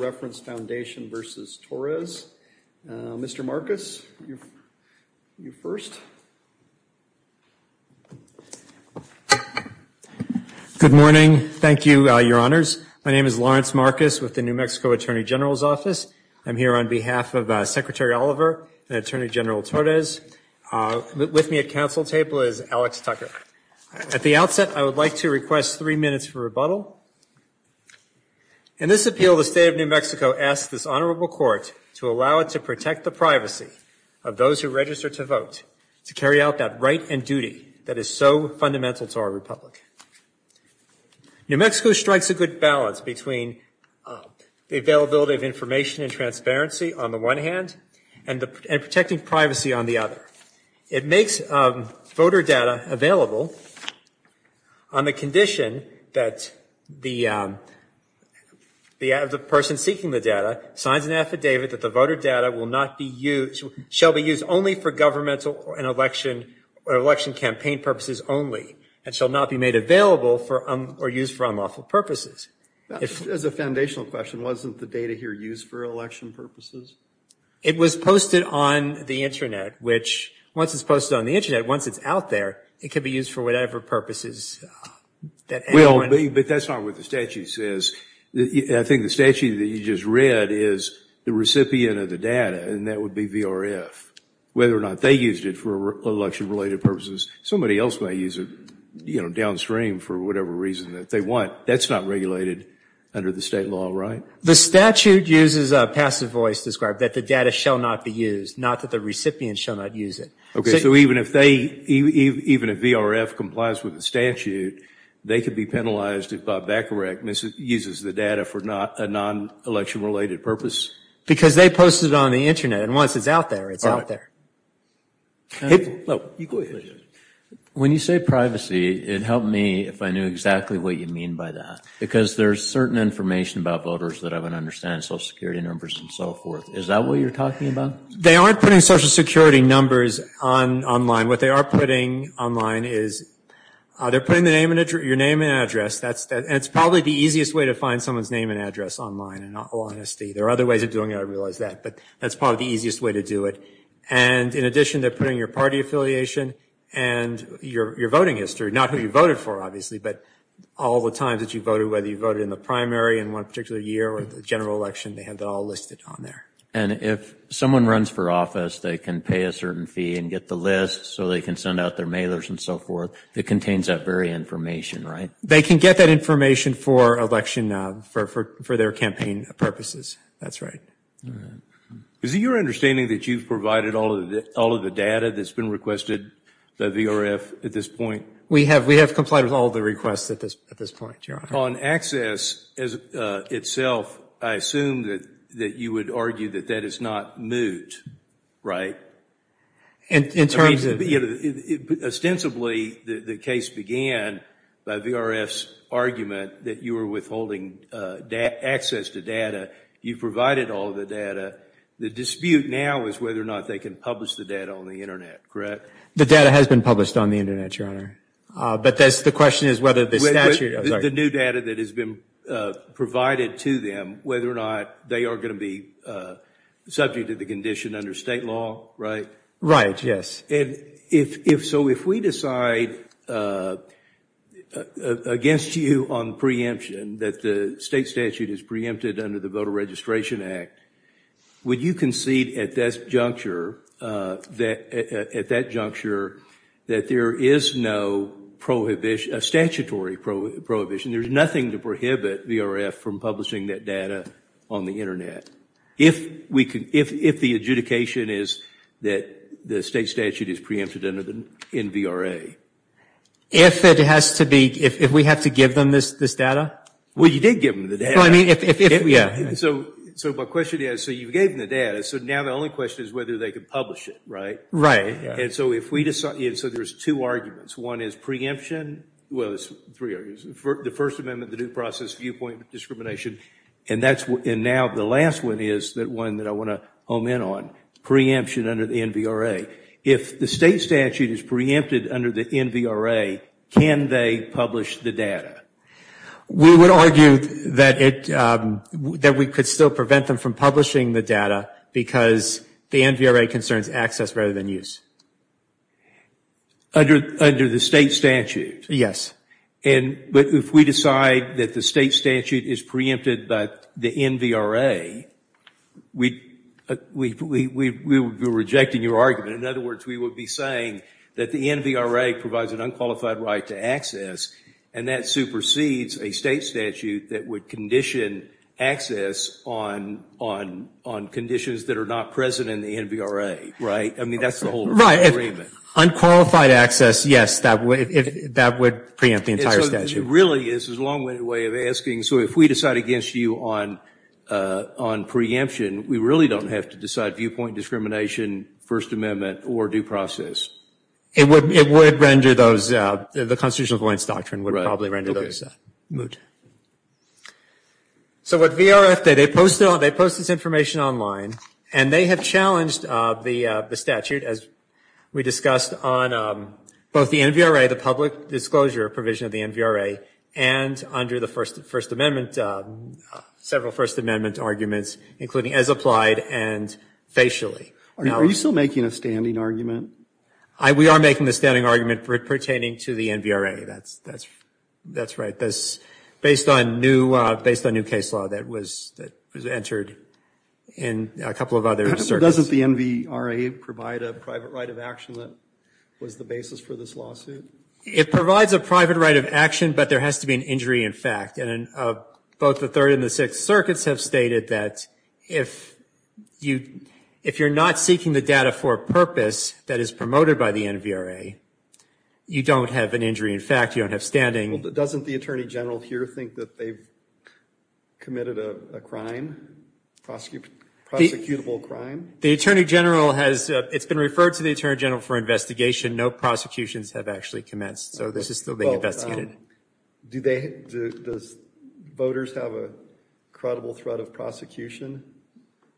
v. Torrez. Mr. Marcus, you first. Good morning. Thank you, Your Honors. My name is Lawrence Marcus with the New Mexico Attorney General's Office. I'm here on behalf of Secretary Oliver and Attorney General Torrez. With me at Council table is Alex Tucker. At the outset, I would like to request three minutes for rebuttal. In this appeal, the State of New Mexico asks this Honorable Court to allow it to protect the privacy of those who register to vote, to carry out that right and duty that is so fundamental to our Republic. New Mexico strikes a good balance between the availability of information and transparency on the one hand and protecting privacy on the other. It makes voter data available on the condition that the person seeking the data signs an affidavit that the voter data will not be used, shall be used only for governmental and election campaign purposes only and shall not be made available or used for unlawful purposes. As a foundational question, wasn't the data here used for election purposes? It was posted on the Internet, which once it's posted on the Internet, once it's out there, it can be used for whatever purposes. But that's not what the statute says. I think the statute that you just read is the recipient of the data, and that would be VRF, whether or not they used it for election-related purposes. Somebody else may use it downstream for whatever reason that they want. That's not regulated under the state law, right? The statute uses a passive voice to describe that the data shall not be used, not that the recipient shall not use it. Okay, so even if VRF complies with the statute, they could be penalized if that correctness uses the data for a non-election-related purpose? Because they posted it on the Internet, and once it's out there, it's out there. When you say privacy, it helped me if I knew exactly what you mean by that, because there's certain information about voters that I wouldn't understand, social security numbers and so forth. Is that what you're talking about? They aren't putting social security numbers online. What they are putting online is they're putting your name and address. That's probably the easiest way to find someone's name and address online, in all honesty. There are other ways of doing it, I realize that, but that's probably the easiest way to do it. And in addition, they're putting your party affiliation and your voting history, not who you voted for, obviously, but all the times that you voted, whether you voted in the primary in one particular year or the general election, they have that all listed on there. And if someone runs for office, they can pay a certain fee and get the list so they can send out their mailers and so forth? It contains that very information, right? They can get that information for their campaign purposes, that's right. Is it your understanding that you've provided all of the data that's been requested by VRF at this point? We have complied with all of the requests at this point, Your Honor. On access itself, I assume that you would argue that that is not moot, right? Ostensibly, the case began by VRF's argument that you were withholding access to data. You provided all of the data. The dispute now is whether or not they can publish the data on the Internet, correct? The data has been published on the Internet, Your Honor. But the question is whether the statute... The new data that has been provided to them, whether or not they are going to be subject to the condition under state law, right? Right, yes. So if we decide against you on preemption, that the state statute is preempted under the Voter Registration Act, would you concede at that juncture that there is no prohibition, a statutory prohibition, there's nothing to prohibit VRF from publishing that data on the Internet? If the adjudication is that the state statute is preempted under the NVRA? If it has to be, if we have to give them this data? Well, you did give them the data. So my question is, so you gave them the data, so now the only question is whether they can publish it, right? Right. And so there's two arguments. One is preemption. Well, there's three arguments. The First Amendment, the due process, viewpoint discrimination, and now the last one is the one that I want to omen on, preemption under the NVRA. If the state statute is preempted under the NVRA, can they publish the data? We would argue that we could still prevent them from publishing the data because the NVRA concerns access rather than use. Under the state statute? But if we decide that the state statute is preempted by the NVRA, we would be rejecting your argument. In other words, we would be saying that the NVRA provides an unqualified right to access, and that supersedes a state statute that would condition access on conditions that are not present in the NVRA, right? I mean, that's the whole agreement. Unqualified access, yes, that would preempt the entire statute. Really, this is a long-winded way of asking, so if we decide against you on preemption, we really don't have to decide viewpoint discrimination, First Amendment, or due process? It would render those, the constitutional compliance doctrine would probably render those moot. So what VRF did, they posted this information online, and they have challenged the statute, as we discussed, on both the NVRA, the public disclosure provision of the NVRA, and under the First Amendment, several First Amendment arguments, including as applied and facially. Are you still making a standing argument? We are making a standing argument pertaining to the NVRA. That's right. Based on new case law that was entered in a couple of other circuits. Doesn't the NVRA provide a private right of action that was the basis for this lawsuit? It provides a private right of action, but there has to be an injury in fact, and both the Third and the Sixth Circuits have stated that if you're not seeking the data for a purpose that is promoted by the NVRA, you don't have an injury in fact, you don't have standing. Doesn't the Attorney General here think that they've committed a crime, prosecutable crime? It's been referred to the Attorney General for investigation, no prosecutions have actually commenced, so this is still being investigated. Does voters have a credible threat of prosecution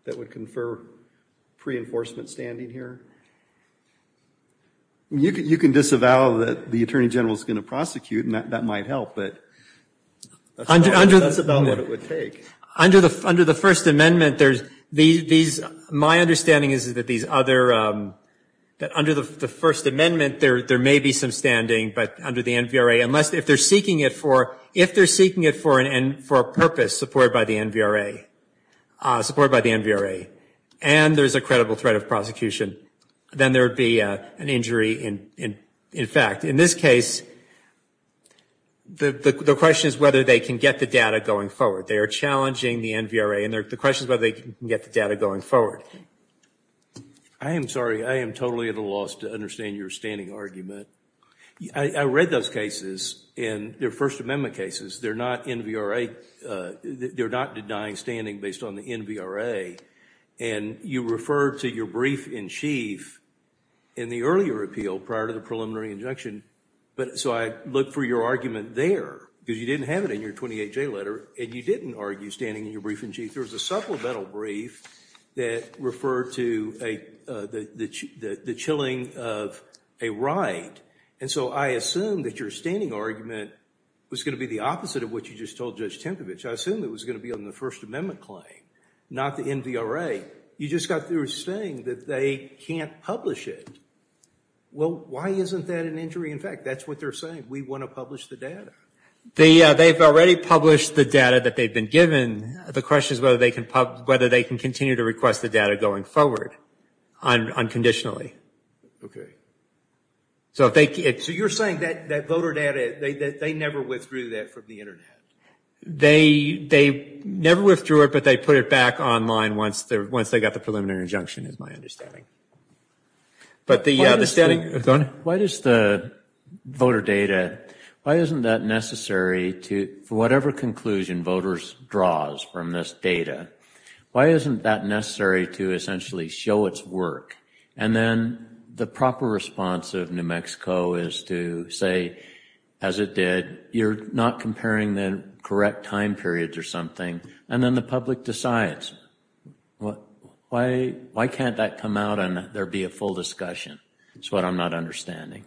that would confer pre-enforcement standing here? You can disavow that the Attorney General is going to prosecute and that might help, but that's about what it would take. Under the First Amendment, my understanding is that these other, under the First Amendment there may be some standing, but under the NVRA, if they're seeking it for a purpose supported by the NVRA, and there's a credible threat of prosecution, then there would be an injury in fact. In this case, the question is whether they can get the data going forward. They are challenging the NVRA and the question is whether they can get the data going forward. I am sorry, I am totally at a loss to understand your standing argument. I read those cases and they're First Amendment cases, they're not NVRA, they're not denying standing based on the NVRA, and you referred to your brief-in-chief in the earlier appeal prior to the preliminary injunction, so I looked for your argument there because you didn't have it in your 28J letter and you didn't argue standing in your brief-in-chief. There was a supplemental brief that referred to the chilling of a right, and so I assumed that your standing argument was going to be the opposite of what you just told Judge Tempevich. I assumed it was going to be on the First Amendment claim, not the NVRA. You just got through saying that they can't publish it. Well, why isn't that an injury in fact? That's what they're saying, we want to publish the data. They've already published the data that they've been given. The question is whether they can continue to request the data going forward unconditionally. So you're saying that voter data, they never withdrew that from the Internet? They never withdrew it, but they put it back online once they got the preliminary injunction is my understanding. Why does the voter data, why isn't that necessary for whatever conclusion voters draw? Why isn't that necessary to essentially show its work? And then the proper response of New Mexico is to say, as it did, you're not comparing the correct time periods or something, and then the public decides. Why can't that come out and there be a full discussion? That's what I'm not understanding.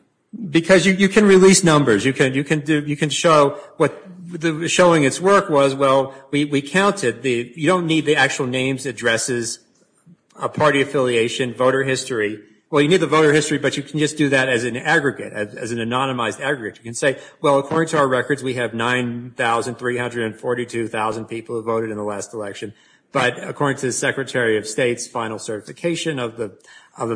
Because you can release numbers, you can show what the showing its work was. Well, we counted, you don't need the actual names, addresses, party affiliation, voter history. Well, you need the voter history, but you can just do that as an aggregate, as an anonymized aggregate. You can say, well, according to our records, we have 9,342,000 people who voted in the last election. But according to the Secretary of State's final certification of the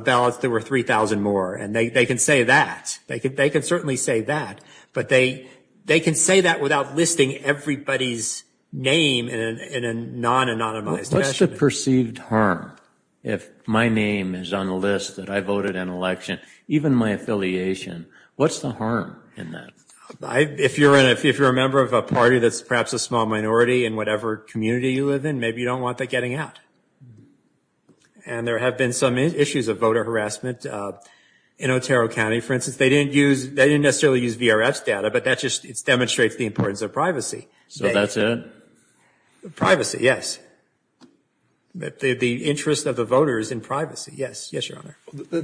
ballots, there were 3,000 more. And they can say that. They can certainly say that. But they can say that without listing everybody's name in a non-anonymized. What's the perceived harm if my name is on the list that I voted in an election, even my affiliation? What's the harm in that? If you're a member of a party that's perhaps a small minority in whatever community you live in, maybe you don't want that getting out. And there have been some issues of voter harassment in Otero County. For instance, they didn't necessarily use VRF's data, but that just demonstrates the importance of privacy. So that's it? Privacy, yes. The interest of the voters in privacy, yes. Yes, Your Honor. The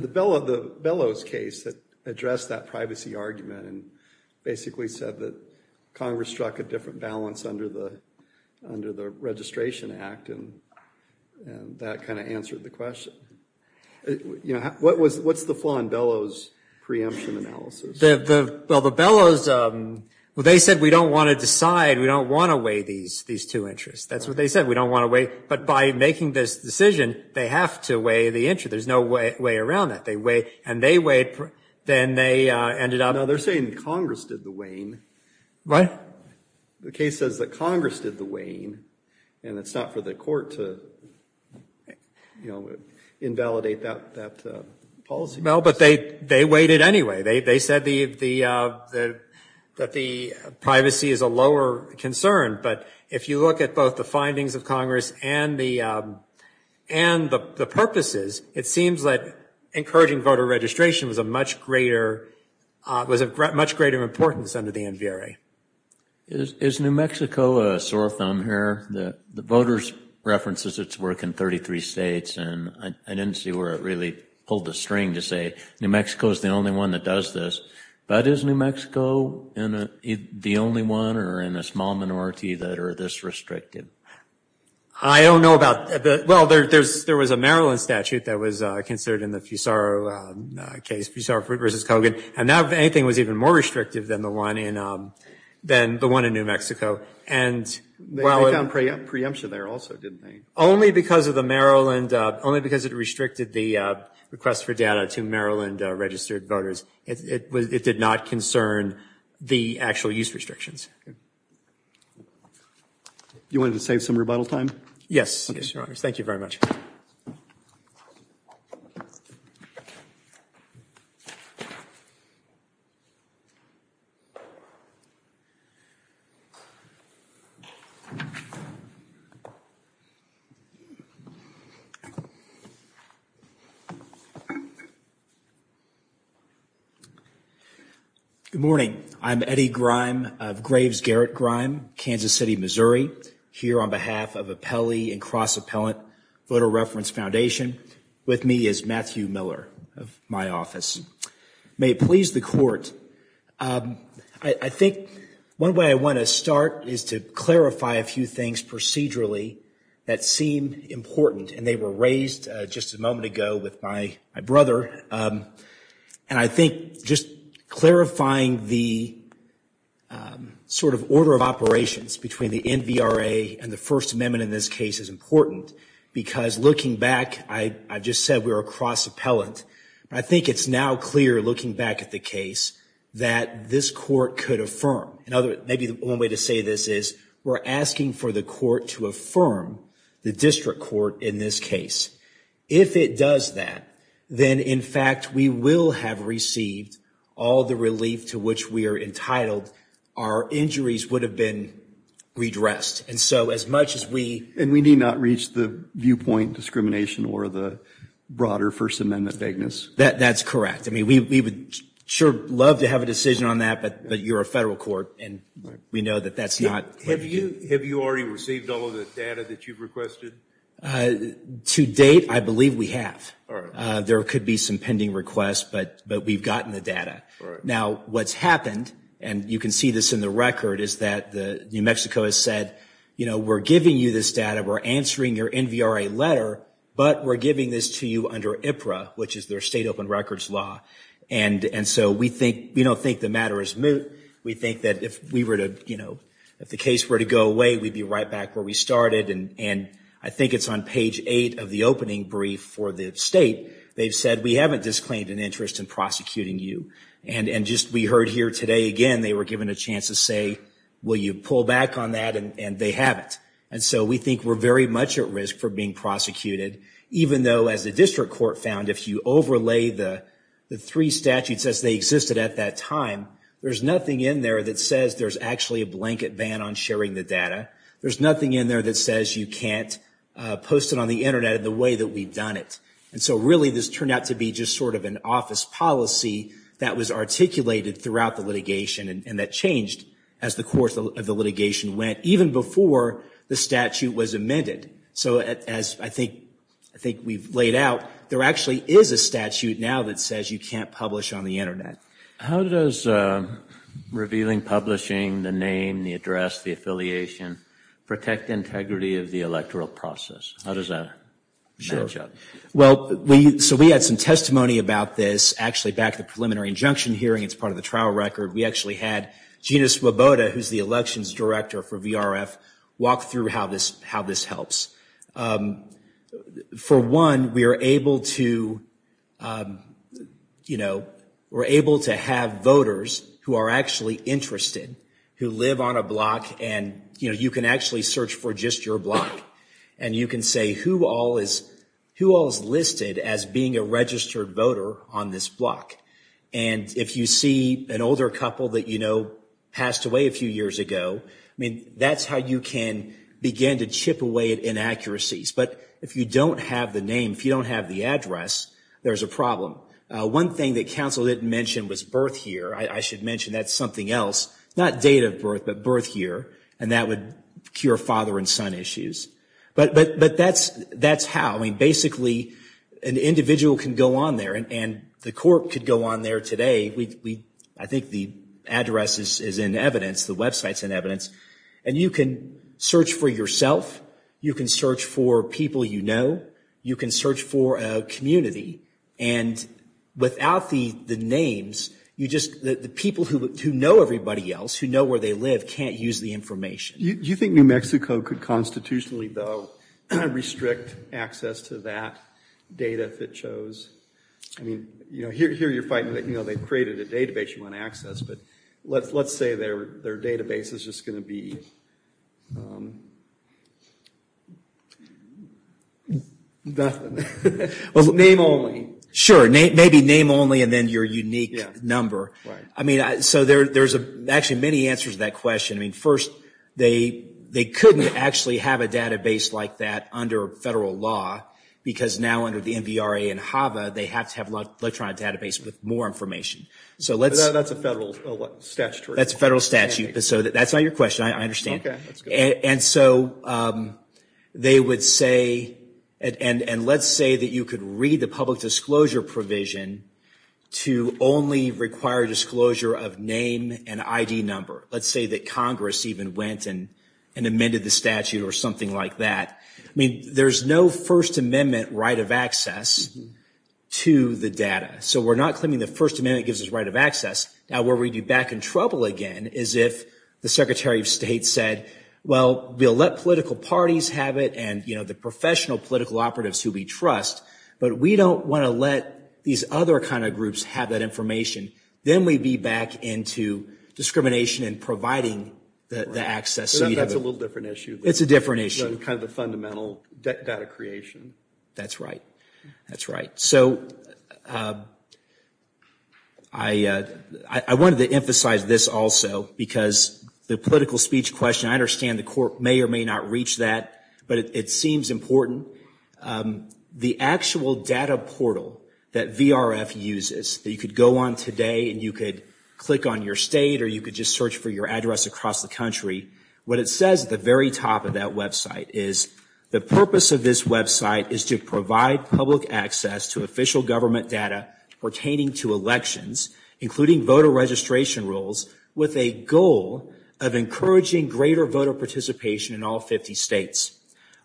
Bellows case addressed that privacy argument and basically said that Congress struck a different balance under the Registration Act. And that kind of answered the question. What's the flaw in Bellows' preemption analysis? Well, they said we don't want to decide. We don't want to weigh these two interests. That's what they said. We don't want to weigh, but by making this decision, they have to weigh the interest. There's no way around that. No, they're saying Congress did the weighing. The case says that Congress did the weighing, and it's not for the court to invalidate that policy. No, but they weighed it anyway. They said that the privacy is a lower concern. But if you look at both the findings of Congress and the purposes, it seems like encouraging voter registration was of much greater importance under the NVRA. Is New Mexico a sore thumb here? The voters references its work in 33 states, and I didn't see where it really pulled the string to say New Mexico is the only one that does this, but is New Mexico the only one or in a small minority that are this restricted? I don't know about that. Well, there was a Maryland statute that was considered in the Fusaro case, Fusaro v. Kogan, and that, if anything, was even more restrictive than the one in New Mexico. They found preemption there also, didn't they? Only because it restricted the request for data to Maryland-registered voters. It did not concern the actual use restrictions. You wanted to save some rebuttal time? Yes, thank you very much. Good morning. I'm Eddie Grime of Graves Garrett Grime, Kansas City, Missouri, here on behalf of Apelli and Cross Appellant Voter Reference Foundation. With me is Matthew Miller of my office. May it please the Court, I think one way I want to start is to clarify a few things procedurally that seem important, and they were raised just a moment ago with my brother. And I think just clarifying the sort of order of operations between the NVRA and the First Amendment in this case is important, because looking back, I've just said we're a cross appellant, but I think it's now clear, looking back at the case, that this court could affirm. Maybe one way to say this is we're asking for the court to affirm the district court in this case. If it does that, then in fact, we will have received all the relief to which we are entitled. Our injuries would have been redressed. And we need not reach the viewpoint discrimination or the broader First Amendment vagueness? That's correct. I mean, we would sure love to have a decision on that, but you're a federal court, and we know that that's not... Have you already received all of the data that you've requested? To date, I believe we have. There could be some pending requests, but we've gotten the data. Now, what's happened, and you can see this in the record, is that New Mexico has said, we're giving you this data, we're answering your NVRA letter, but we're giving this to you under IPRA, which is their state open records law. And so we don't think the matter is moot. We think that if the case were to go away, we'd be right back where we started. And I think it's on page eight of the opening brief for the state. They've said, we haven't disclaimed an interest in prosecuting you. And just we heard here today again, they were given a chance to say, will you pull back on that? And they haven't. And so we think we're very much at risk for being prosecuted, even though as the district court found, if you overlay the three statutes as they existed at that time, there's nothing in there that says there's actually a blanket ban on sharing the data. There's nothing in there that says you can't post it on the Internet in the way that we've done it. And so really this turned out to be just sort of an office policy that was articulated throughout the litigation, and that changed as the course of the litigation went, even before the statute was amended. So as I think we've laid out, there actually is a statute now that says you can't publish on the Internet. How does revealing publishing, the name, the address, the affiliation, protect integrity of the electoral process? How does that match up? Well, so we had some testimony about this actually back at the preliminary injunction hearing. It's part of the trial record. We actually had Gina Swoboda, who's the elections director for VRF, walk through how this how this helps. For one, we are able to, you know, we're able to have voters who are actually interested, who live on a block. And, you know, you can actually search for just your block, and you can say who all is listed as being a registered voter on this block. And if you see an older couple that, you know, passed away a few years ago, I mean, that's how you can begin to chip away at inaccuracies. But if you don't have the name, if you don't have the address, there's a problem. One thing that counsel didn't mention was birth year. I should mention that's something else. Not date of birth, but birth year, and that would cure father and son issues. But that's how. I mean, basically, an individual can go on there, and the court could go on there today. I think the address is in evidence. The Web site's in evidence. And you can search for yourself. You can search for people you know. You can search for a community. And without the names, you just the people who know everybody else, who know where they live, can't use the information. You think New Mexico could constitutionally, though, restrict access to that data if it shows? I mean, you know, here you're fighting that, you know, they've created a database you want to access. But let's say their database is just going to be nothing. Name only. Sure. Maybe name only and then your unique number. Actually, many answers to that question. I mean, first, they couldn't actually have a database like that under federal law, because now under the NVRA and HAVA, they have to have an electronic database with more information. That's a federal statute. That's a federal statute. That's not your question, I understand. And so they would say, and let's say that you could read the public disclosure provision to only require disclosure of name and ID number. Let's say that Congress even went and amended the statute or something like that. I mean, there's no First Amendment right of access to the data. So we're not claiming the First Amendment gives us right of access. Now, where we'd be back in trouble again is if the Secretary of State said, well, we'll let political parties have it. And, you know, the professional political operatives who we trust. But we don't want to let these other kind of groups have that information. Then we'd be back into discrimination and providing the access. That's a little different issue. It's a different issue. Kind of a fundamental data creation. That's right. That's right. So I wanted to emphasize this also, because the political speech question, I understand the court may or may not reach that, but it seems important. The actual data portal that VRF uses that you could go on today and you could click on your state or you could just search for your address across the country. What it says at the very top of that Web site is the purpose of this Web site is to provide public access to official government data pertaining to elections, including voter registration rules with a goal of encouraging greater voter participation in all 50 states.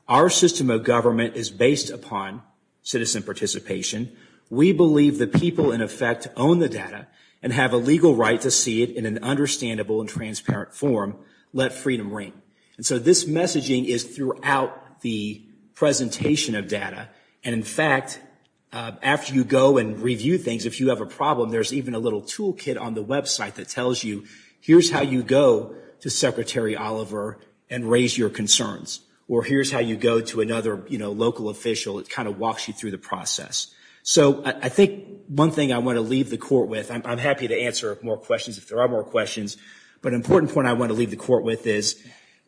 Our system of government is based upon citizen participation. We believe the people in effect own the data and have a legal right to see it in an understandable and transparent form. Let freedom ring. And so this messaging is throughout the presentation of data. And in fact, after you go and review things, if you have a problem, there's even a little tool kit on the Web site that tells you, here's how you go to Secretary Oliver and raise your concerns. Or here's how you go to another local official. It kind of walks you through the process. So I think one thing I want to leave the court with, I'm happy to answer more questions if there are more questions, but an important point I want to leave the court with is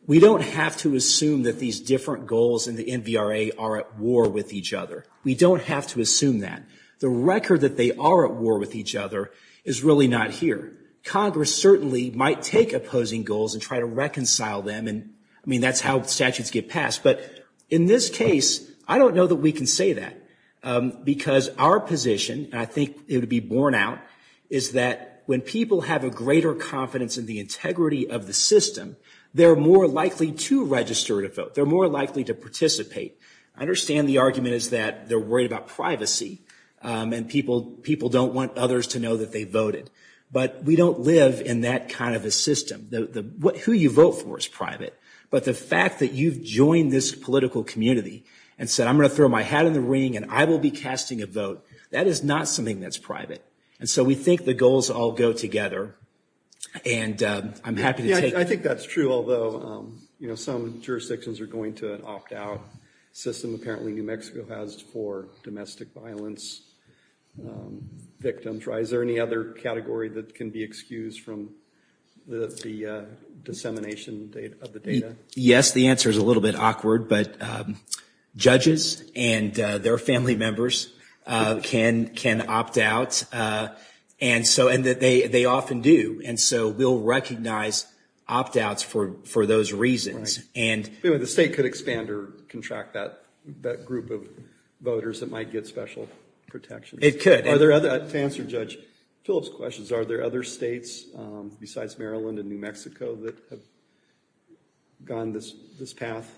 we don't have to assume that these different goals in the NVRA are at war with each other. We don't have to assume that. The record that they are at war with each other is really not here. Congress certainly might take opposing goals and try to reconcile them. And I mean, that's how statutes get passed. But in this case, I don't know that we can say that because our position, and I think it would be borne out, is that when people have a greater confidence in the integrity of the system, they're more likely to register to vote. They're more likely to participate. I understand the argument is that they're worried about privacy and people don't want others to know that they voted. But we don't live in that kind of a system. Who you vote for is private. But the fact that you've joined this political community and said, I'm going to throw my hat in the ring and I will be casting a vote, that is not something that's private. And so we think the goals all go together. And I'm happy to take... Yeah, I think that's true, although some jurisdictions are going to opt out. The system apparently New Mexico has for domestic violence victims. Is there any other category that can be excused from the dissemination of the data? Yes, the answer is a little bit awkward, but judges and their family members can opt out. And they often do. And so we'll recognize opt outs for those reasons. The state could expand or contract that group of voters that might get special protection. To answer Judge Phillips' questions, are there other states besides Maryland and New Mexico that have gone this path?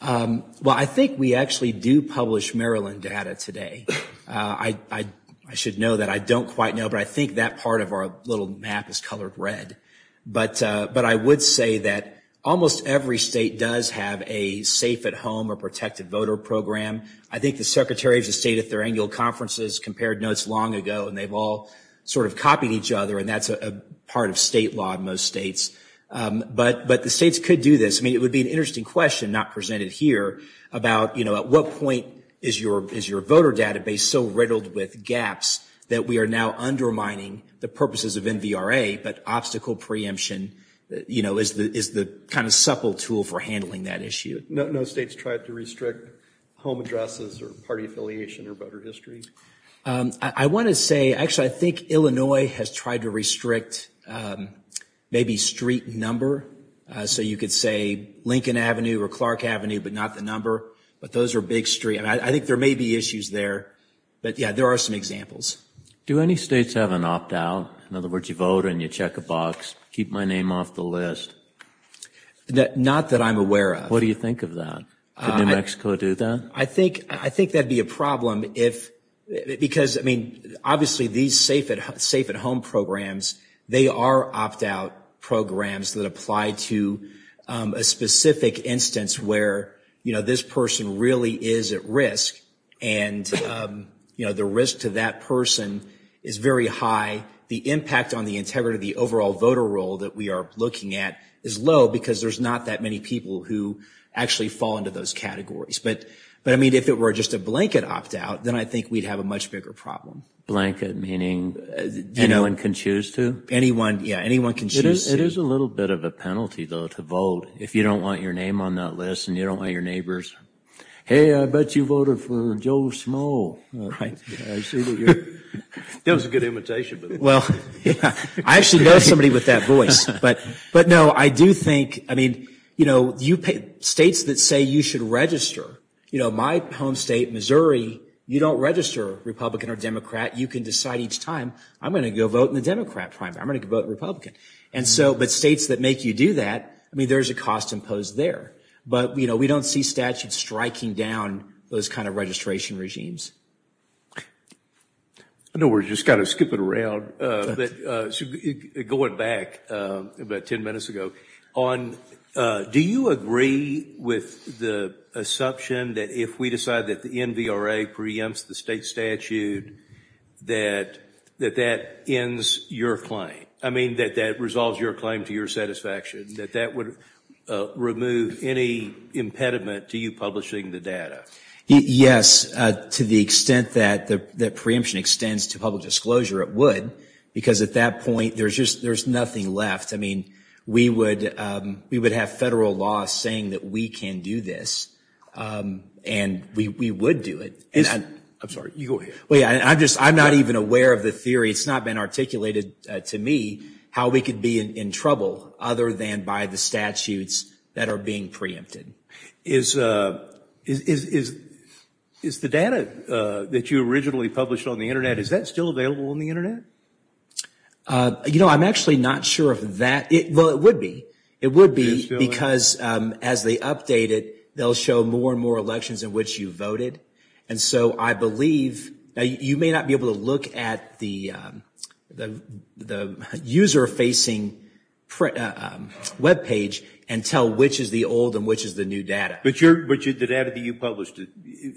Well, I think we actually do publish Maryland data today. I should know that. I don't quite know, but I think that part of our little map is colored red. But I would say that almost every state does have a safe at home or protected voter program. I think the secretaries of state at their annual conferences compared notes long ago and they've all sort of copied each other. And that's a part of state law in most states. But the states could do this. I mean, it would be an interesting question not presented here about, you know, at what point is your voter database so riddled with gaps that we are now undermining the purposes of NVRA, but obstacle preemption, you know, is the kind of supple tool for handling that issue. No state's tried to restrict home addresses or party affiliation or voter history? I want to say, actually, I think Illinois has tried to restrict maybe street number. So you could say Lincoln Avenue or Clark Avenue, but not the number. But those are big street. And I think there may be issues there. But yeah, there are some examples. Do any states have an opt out? In other words, you vote and you check a box. Keep my name off the list. Not that I'm aware of. What do you think of that? New Mexico do that? I think I think that'd be a problem if because I mean, obviously, these safe at safe at home programs, they are opt out programs that apply to a specific instance where, you know, this person really is at risk. And, you know, the risk to that person is very high. The impact on the integrity of the overall voter roll that we are looking at is low because there's not that many people who actually fall into those categories. But but I mean, if it were just a blanket opt out, then I think we'd have a much bigger problem. Blanket meaning anyone can choose to anyone. Yeah, anyone can choose. It is a little bit of a penalty, though, to vote if you don't want your name on that list and you don't want your neighbors. Hey, I bet you voted for Joe Small. Right. That was a good invitation. Well, I actually know somebody with that voice. But but no, I do think I mean, you know, you pay states that say you should register, you know, my home state, Missouri, you don't register Republican or Democrat. You can decide each time I'm going to go vote in the Democrat primary. I'm going to vote Republican. And so but states that make you do that. I mean, there's a cost imposed there. But, you know, we don't see statutes striking down those kind of registration regimes. I know we're just going to skip it around, but going back about 10 minutes ago on, do you agree with the assumption that if we decide that the NVRA preempts the state statute that that that ends your claim? I mean, that that resolves your claim to your satisfaction, that that would remove any impediment to you publishing the data? Yes. To the extent that the preemption extends to public disclosure, it would, because at that point there's just there's nothing left. I mean, we would we would have federal law saying that we can do this and we would do it. And I'm sorry. I'm just I'm not even aware of the theory. It's not been articulated to me how we could be in trouble other than by the statutes that are being preempted. Is the data that you originally published on the Internet, is that still available on the Internet? You know, I'm actually not sure of that. Well, it would be. It would be because as they update it, they'll show more and more elections in which you voted. And so I believe you may not be able to look at the user facing web page and tell which is the old and which is the new data. But the data that you published,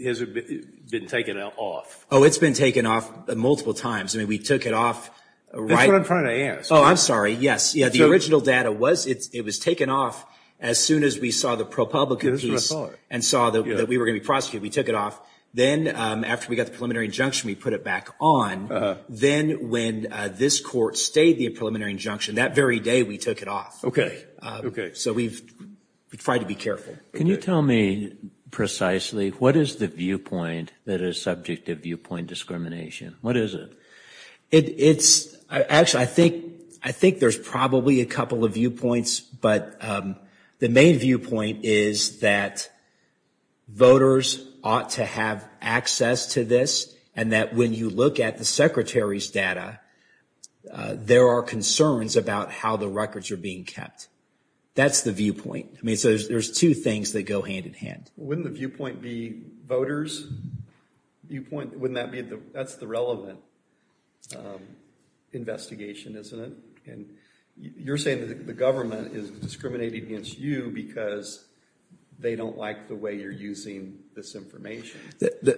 has it been taken off? Oh, it's been taken off multiple times. I mean, we took it off. That's what I'm trying to ask. Oh, I'm sorry. Yes. Yeah. The original data was it was taken off as soon as we saw the ProPublica piece and saw that we were going to prosecute. We took it off. Then after we got the preliminary injunction, we put it back on. Then when this court stayed the preliminary injunction, that very day we took it off. OK. OK. So we've tried to be careful. Can you tell me precisely what is the viewpoint that is subject to viewpoint discrimination? What is it? It's actually, I think there's probably a couple of viewpoints. But the main viewpoint is that voters ought to have access to this and that when you look at the secretary's data, there are concerns about how the records are being kept. That's the viewpoint. I mean, so there's two things that go hand in hand. Wouldn't the viewpoint be voters? That's the relevant investigation, isn't it? And you're saying that the government is discriminating against you because they don't like the way you're using this information.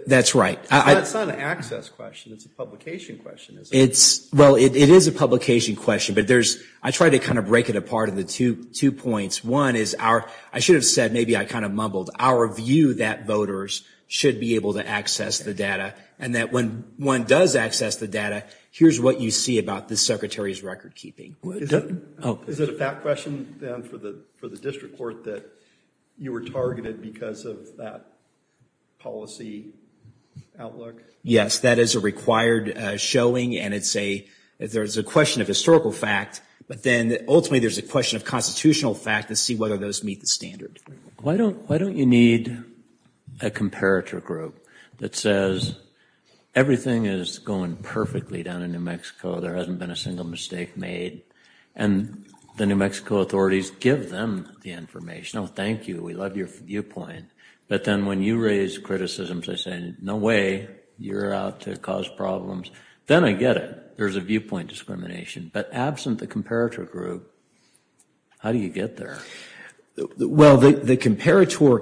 That's right. It's not an access question. It's a publication question. It's well, it is a publication question. But there's I tried to kind of break it apart into two points. One is our I should have said maybe I kind of mumbled our view that voters should be able to access the data and that when one does access the data, here's what you see about the secretary's record keeping. Is it a fact question for the district court that you were targeted because of that policy outlook? Yes, that is a required showing. And it's a there's a question of historical fact. But then ultimately, there's a question of constitutional fact to see whether those meet the standard. Why don't why don't you need a comparator group that says everything is going perfectly down in New Mexico. There hasn't been a single mistake made. And the New Mexico authorities give them the information. Oh, thank you. We love your viewpoint. But then when you raise criticisms, I say no way you're out to cause problems. Then I get it. There's a viewpoint discrimination. But the comparator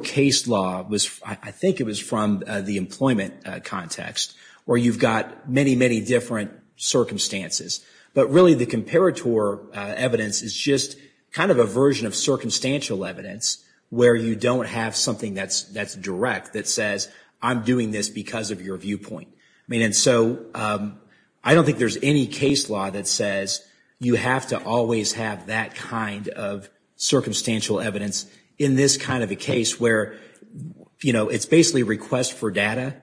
case law was I think it was from the employment context where you've got many, many different circumstances. But really the comparator evidence is just kind of a version of circumstantial evidence where you don't have something that's that's direct that says I'm doing this because of your viewpoint. I mean, and so I don't think there's any case law that says you have to always have that kind of circumstantial evidence in this kind of a case where, you know, it's basically request for data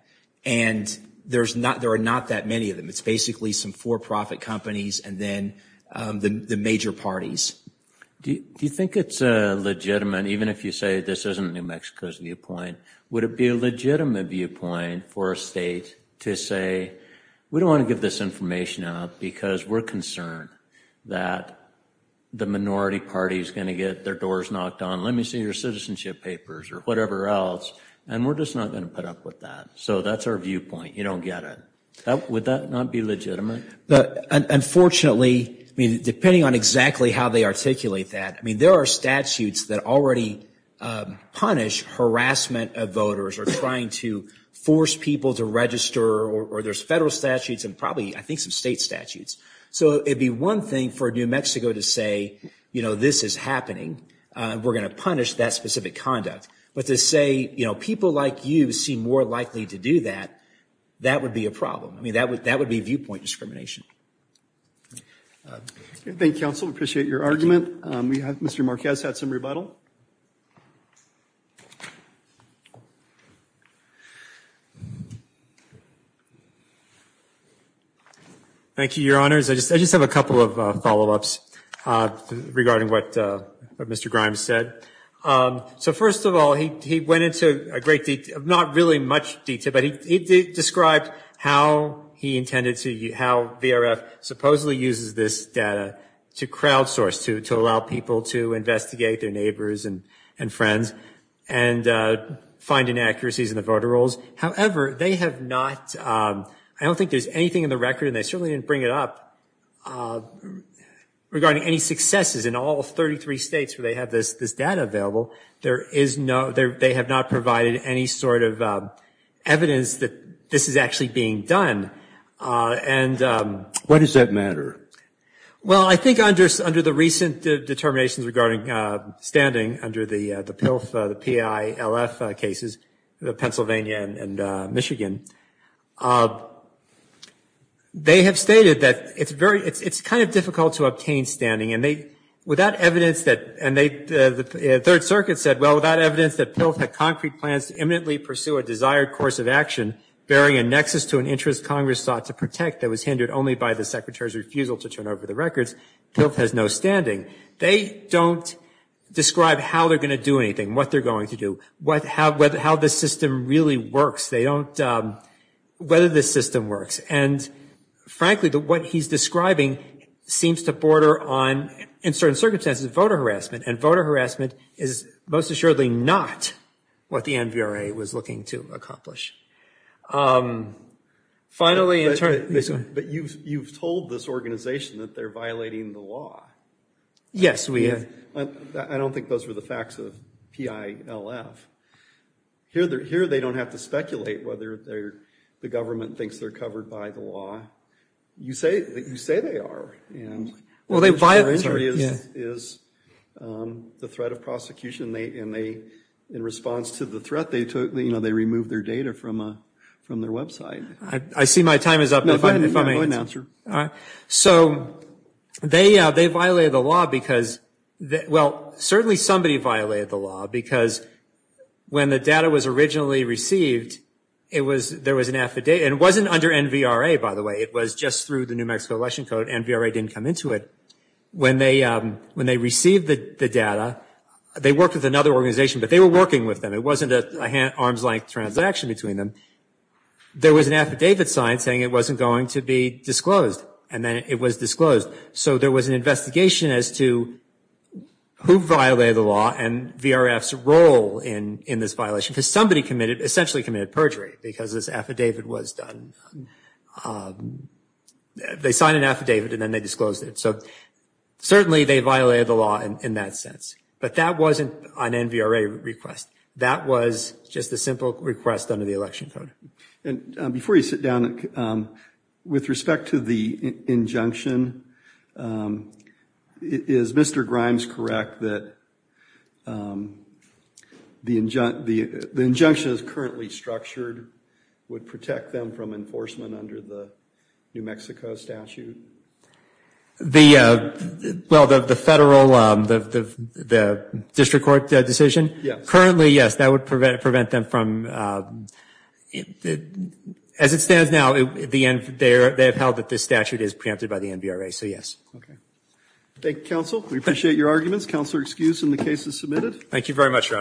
and there's not there are not that many of them. It's basically some for profit companies and then the major parties. Do you think it's legitimate, even if you say this isn't New Mexico's viewpoint, would it be a legitimate viewpoint for a state to say we don't want to give this information up because we're concerned that the minority party is going to get their doors knocked on? Let me see your citizenship papers or whatever else. And we're just not going to put up with that. So that's our viewpoint. You don't get it. Would that not be legitimate? Unfortunately, depending on exactly how they articulate that, I mean, there are statutes that already punish harassment of voters or trying to force people to register or there's federal statutes and probably I think some state statutes. So it'd be one thing for New Mexico to say, you know, this is happening. We're going to punish that specific conduct. But to say, you know, people like you seem more likely to do that, that would be a problem. I mean, that would that would be viewpoint discrimination. Thank you, counsel. Appreciate your argument. We have Mr. Marquez had some rebuttal. Thank you, Your Honors. I just I just have a couple of follow ups regarding what Mr. Grimes said. So first of all, he went into a great not really much detail, but he described how he intended to how VRF supposedly uses this data to crowdsource, to allow people to investigate their neighbors and friends and find inaccuracies in the voter rolls. However, they have not I don't think there's anything in the record and they certainly didn't bring it up regarding any successes in all 33 states where they have this data available. There is no they have not provided any sort of evidence that this is actually being done. And what does that matter? Well, I think under under the recent determinations regarding standing under the PILF, the PILF cases, Pennsylvania and Michigan, they have stated that it's very it's kind of difficult to obtain standing. And they without evidence that and they the Third Circuit said, well, without evidence that PILF had concrete plans to imminently pursue a desired course of action, bearing a nexus to an interest Congress sought to protect that was hindered only by the secretary's refusal to turn over the records. PILF has no standing. They don't describe how they're going to do anything, what they're going to do, what how how this system really works. They don't whether this system works. And harassment and voter harassment is most assuredly not what the NVRA was looking to accomplish. Finally, you've told this organization that they're violating the law. Yes, we I don't think those were the facts of PILF. Here they're here. They don't have to speculate whether they're the government thinks they're covered by the law. You say that you say they are and well, they violate the threat of prosecution. And they in response to the threat they took, you know, they removed their data from from their website. I see my time is up. All right. So they they violated the law because well, certainly somebody violated the law because when the data was originally received, it was there was an affidavit and it wasn't under NVRA, by the way. It was just through the New Mexico Election Code. NVRA didn't come into it when they when they received the data. They worked with another organization, but they were working with them. It wasn't a arm's length transaction between them. There was an affidavit signed saying it wasn't going to be disclosed. And then it was disclosed. So there was an investigation as to who violated the law and VRF's role in in this violation because somebody committed essentially committed perjury because this affidavit was done. They signed an affidavit and then they disclosed it. So certainly they violated the law in that sense. But that wasn't an NVRA request. That was just a simple request under the election code. And before you sit down with respect to the injunction, is Mr. Grimes correct that the injunction is currently structured would protect them from enforcement under the New Mexico statute? Well, the federal, the district court decision? Yes. Currently, yes, that would prevent them from, as it stands now, they have held that this statute is preempted by the NVRA. So yes. Okay. Thank you, counsel. We appreciate your arguments. Counselor excused and the case is submitted. Thank you very much, Your Honors.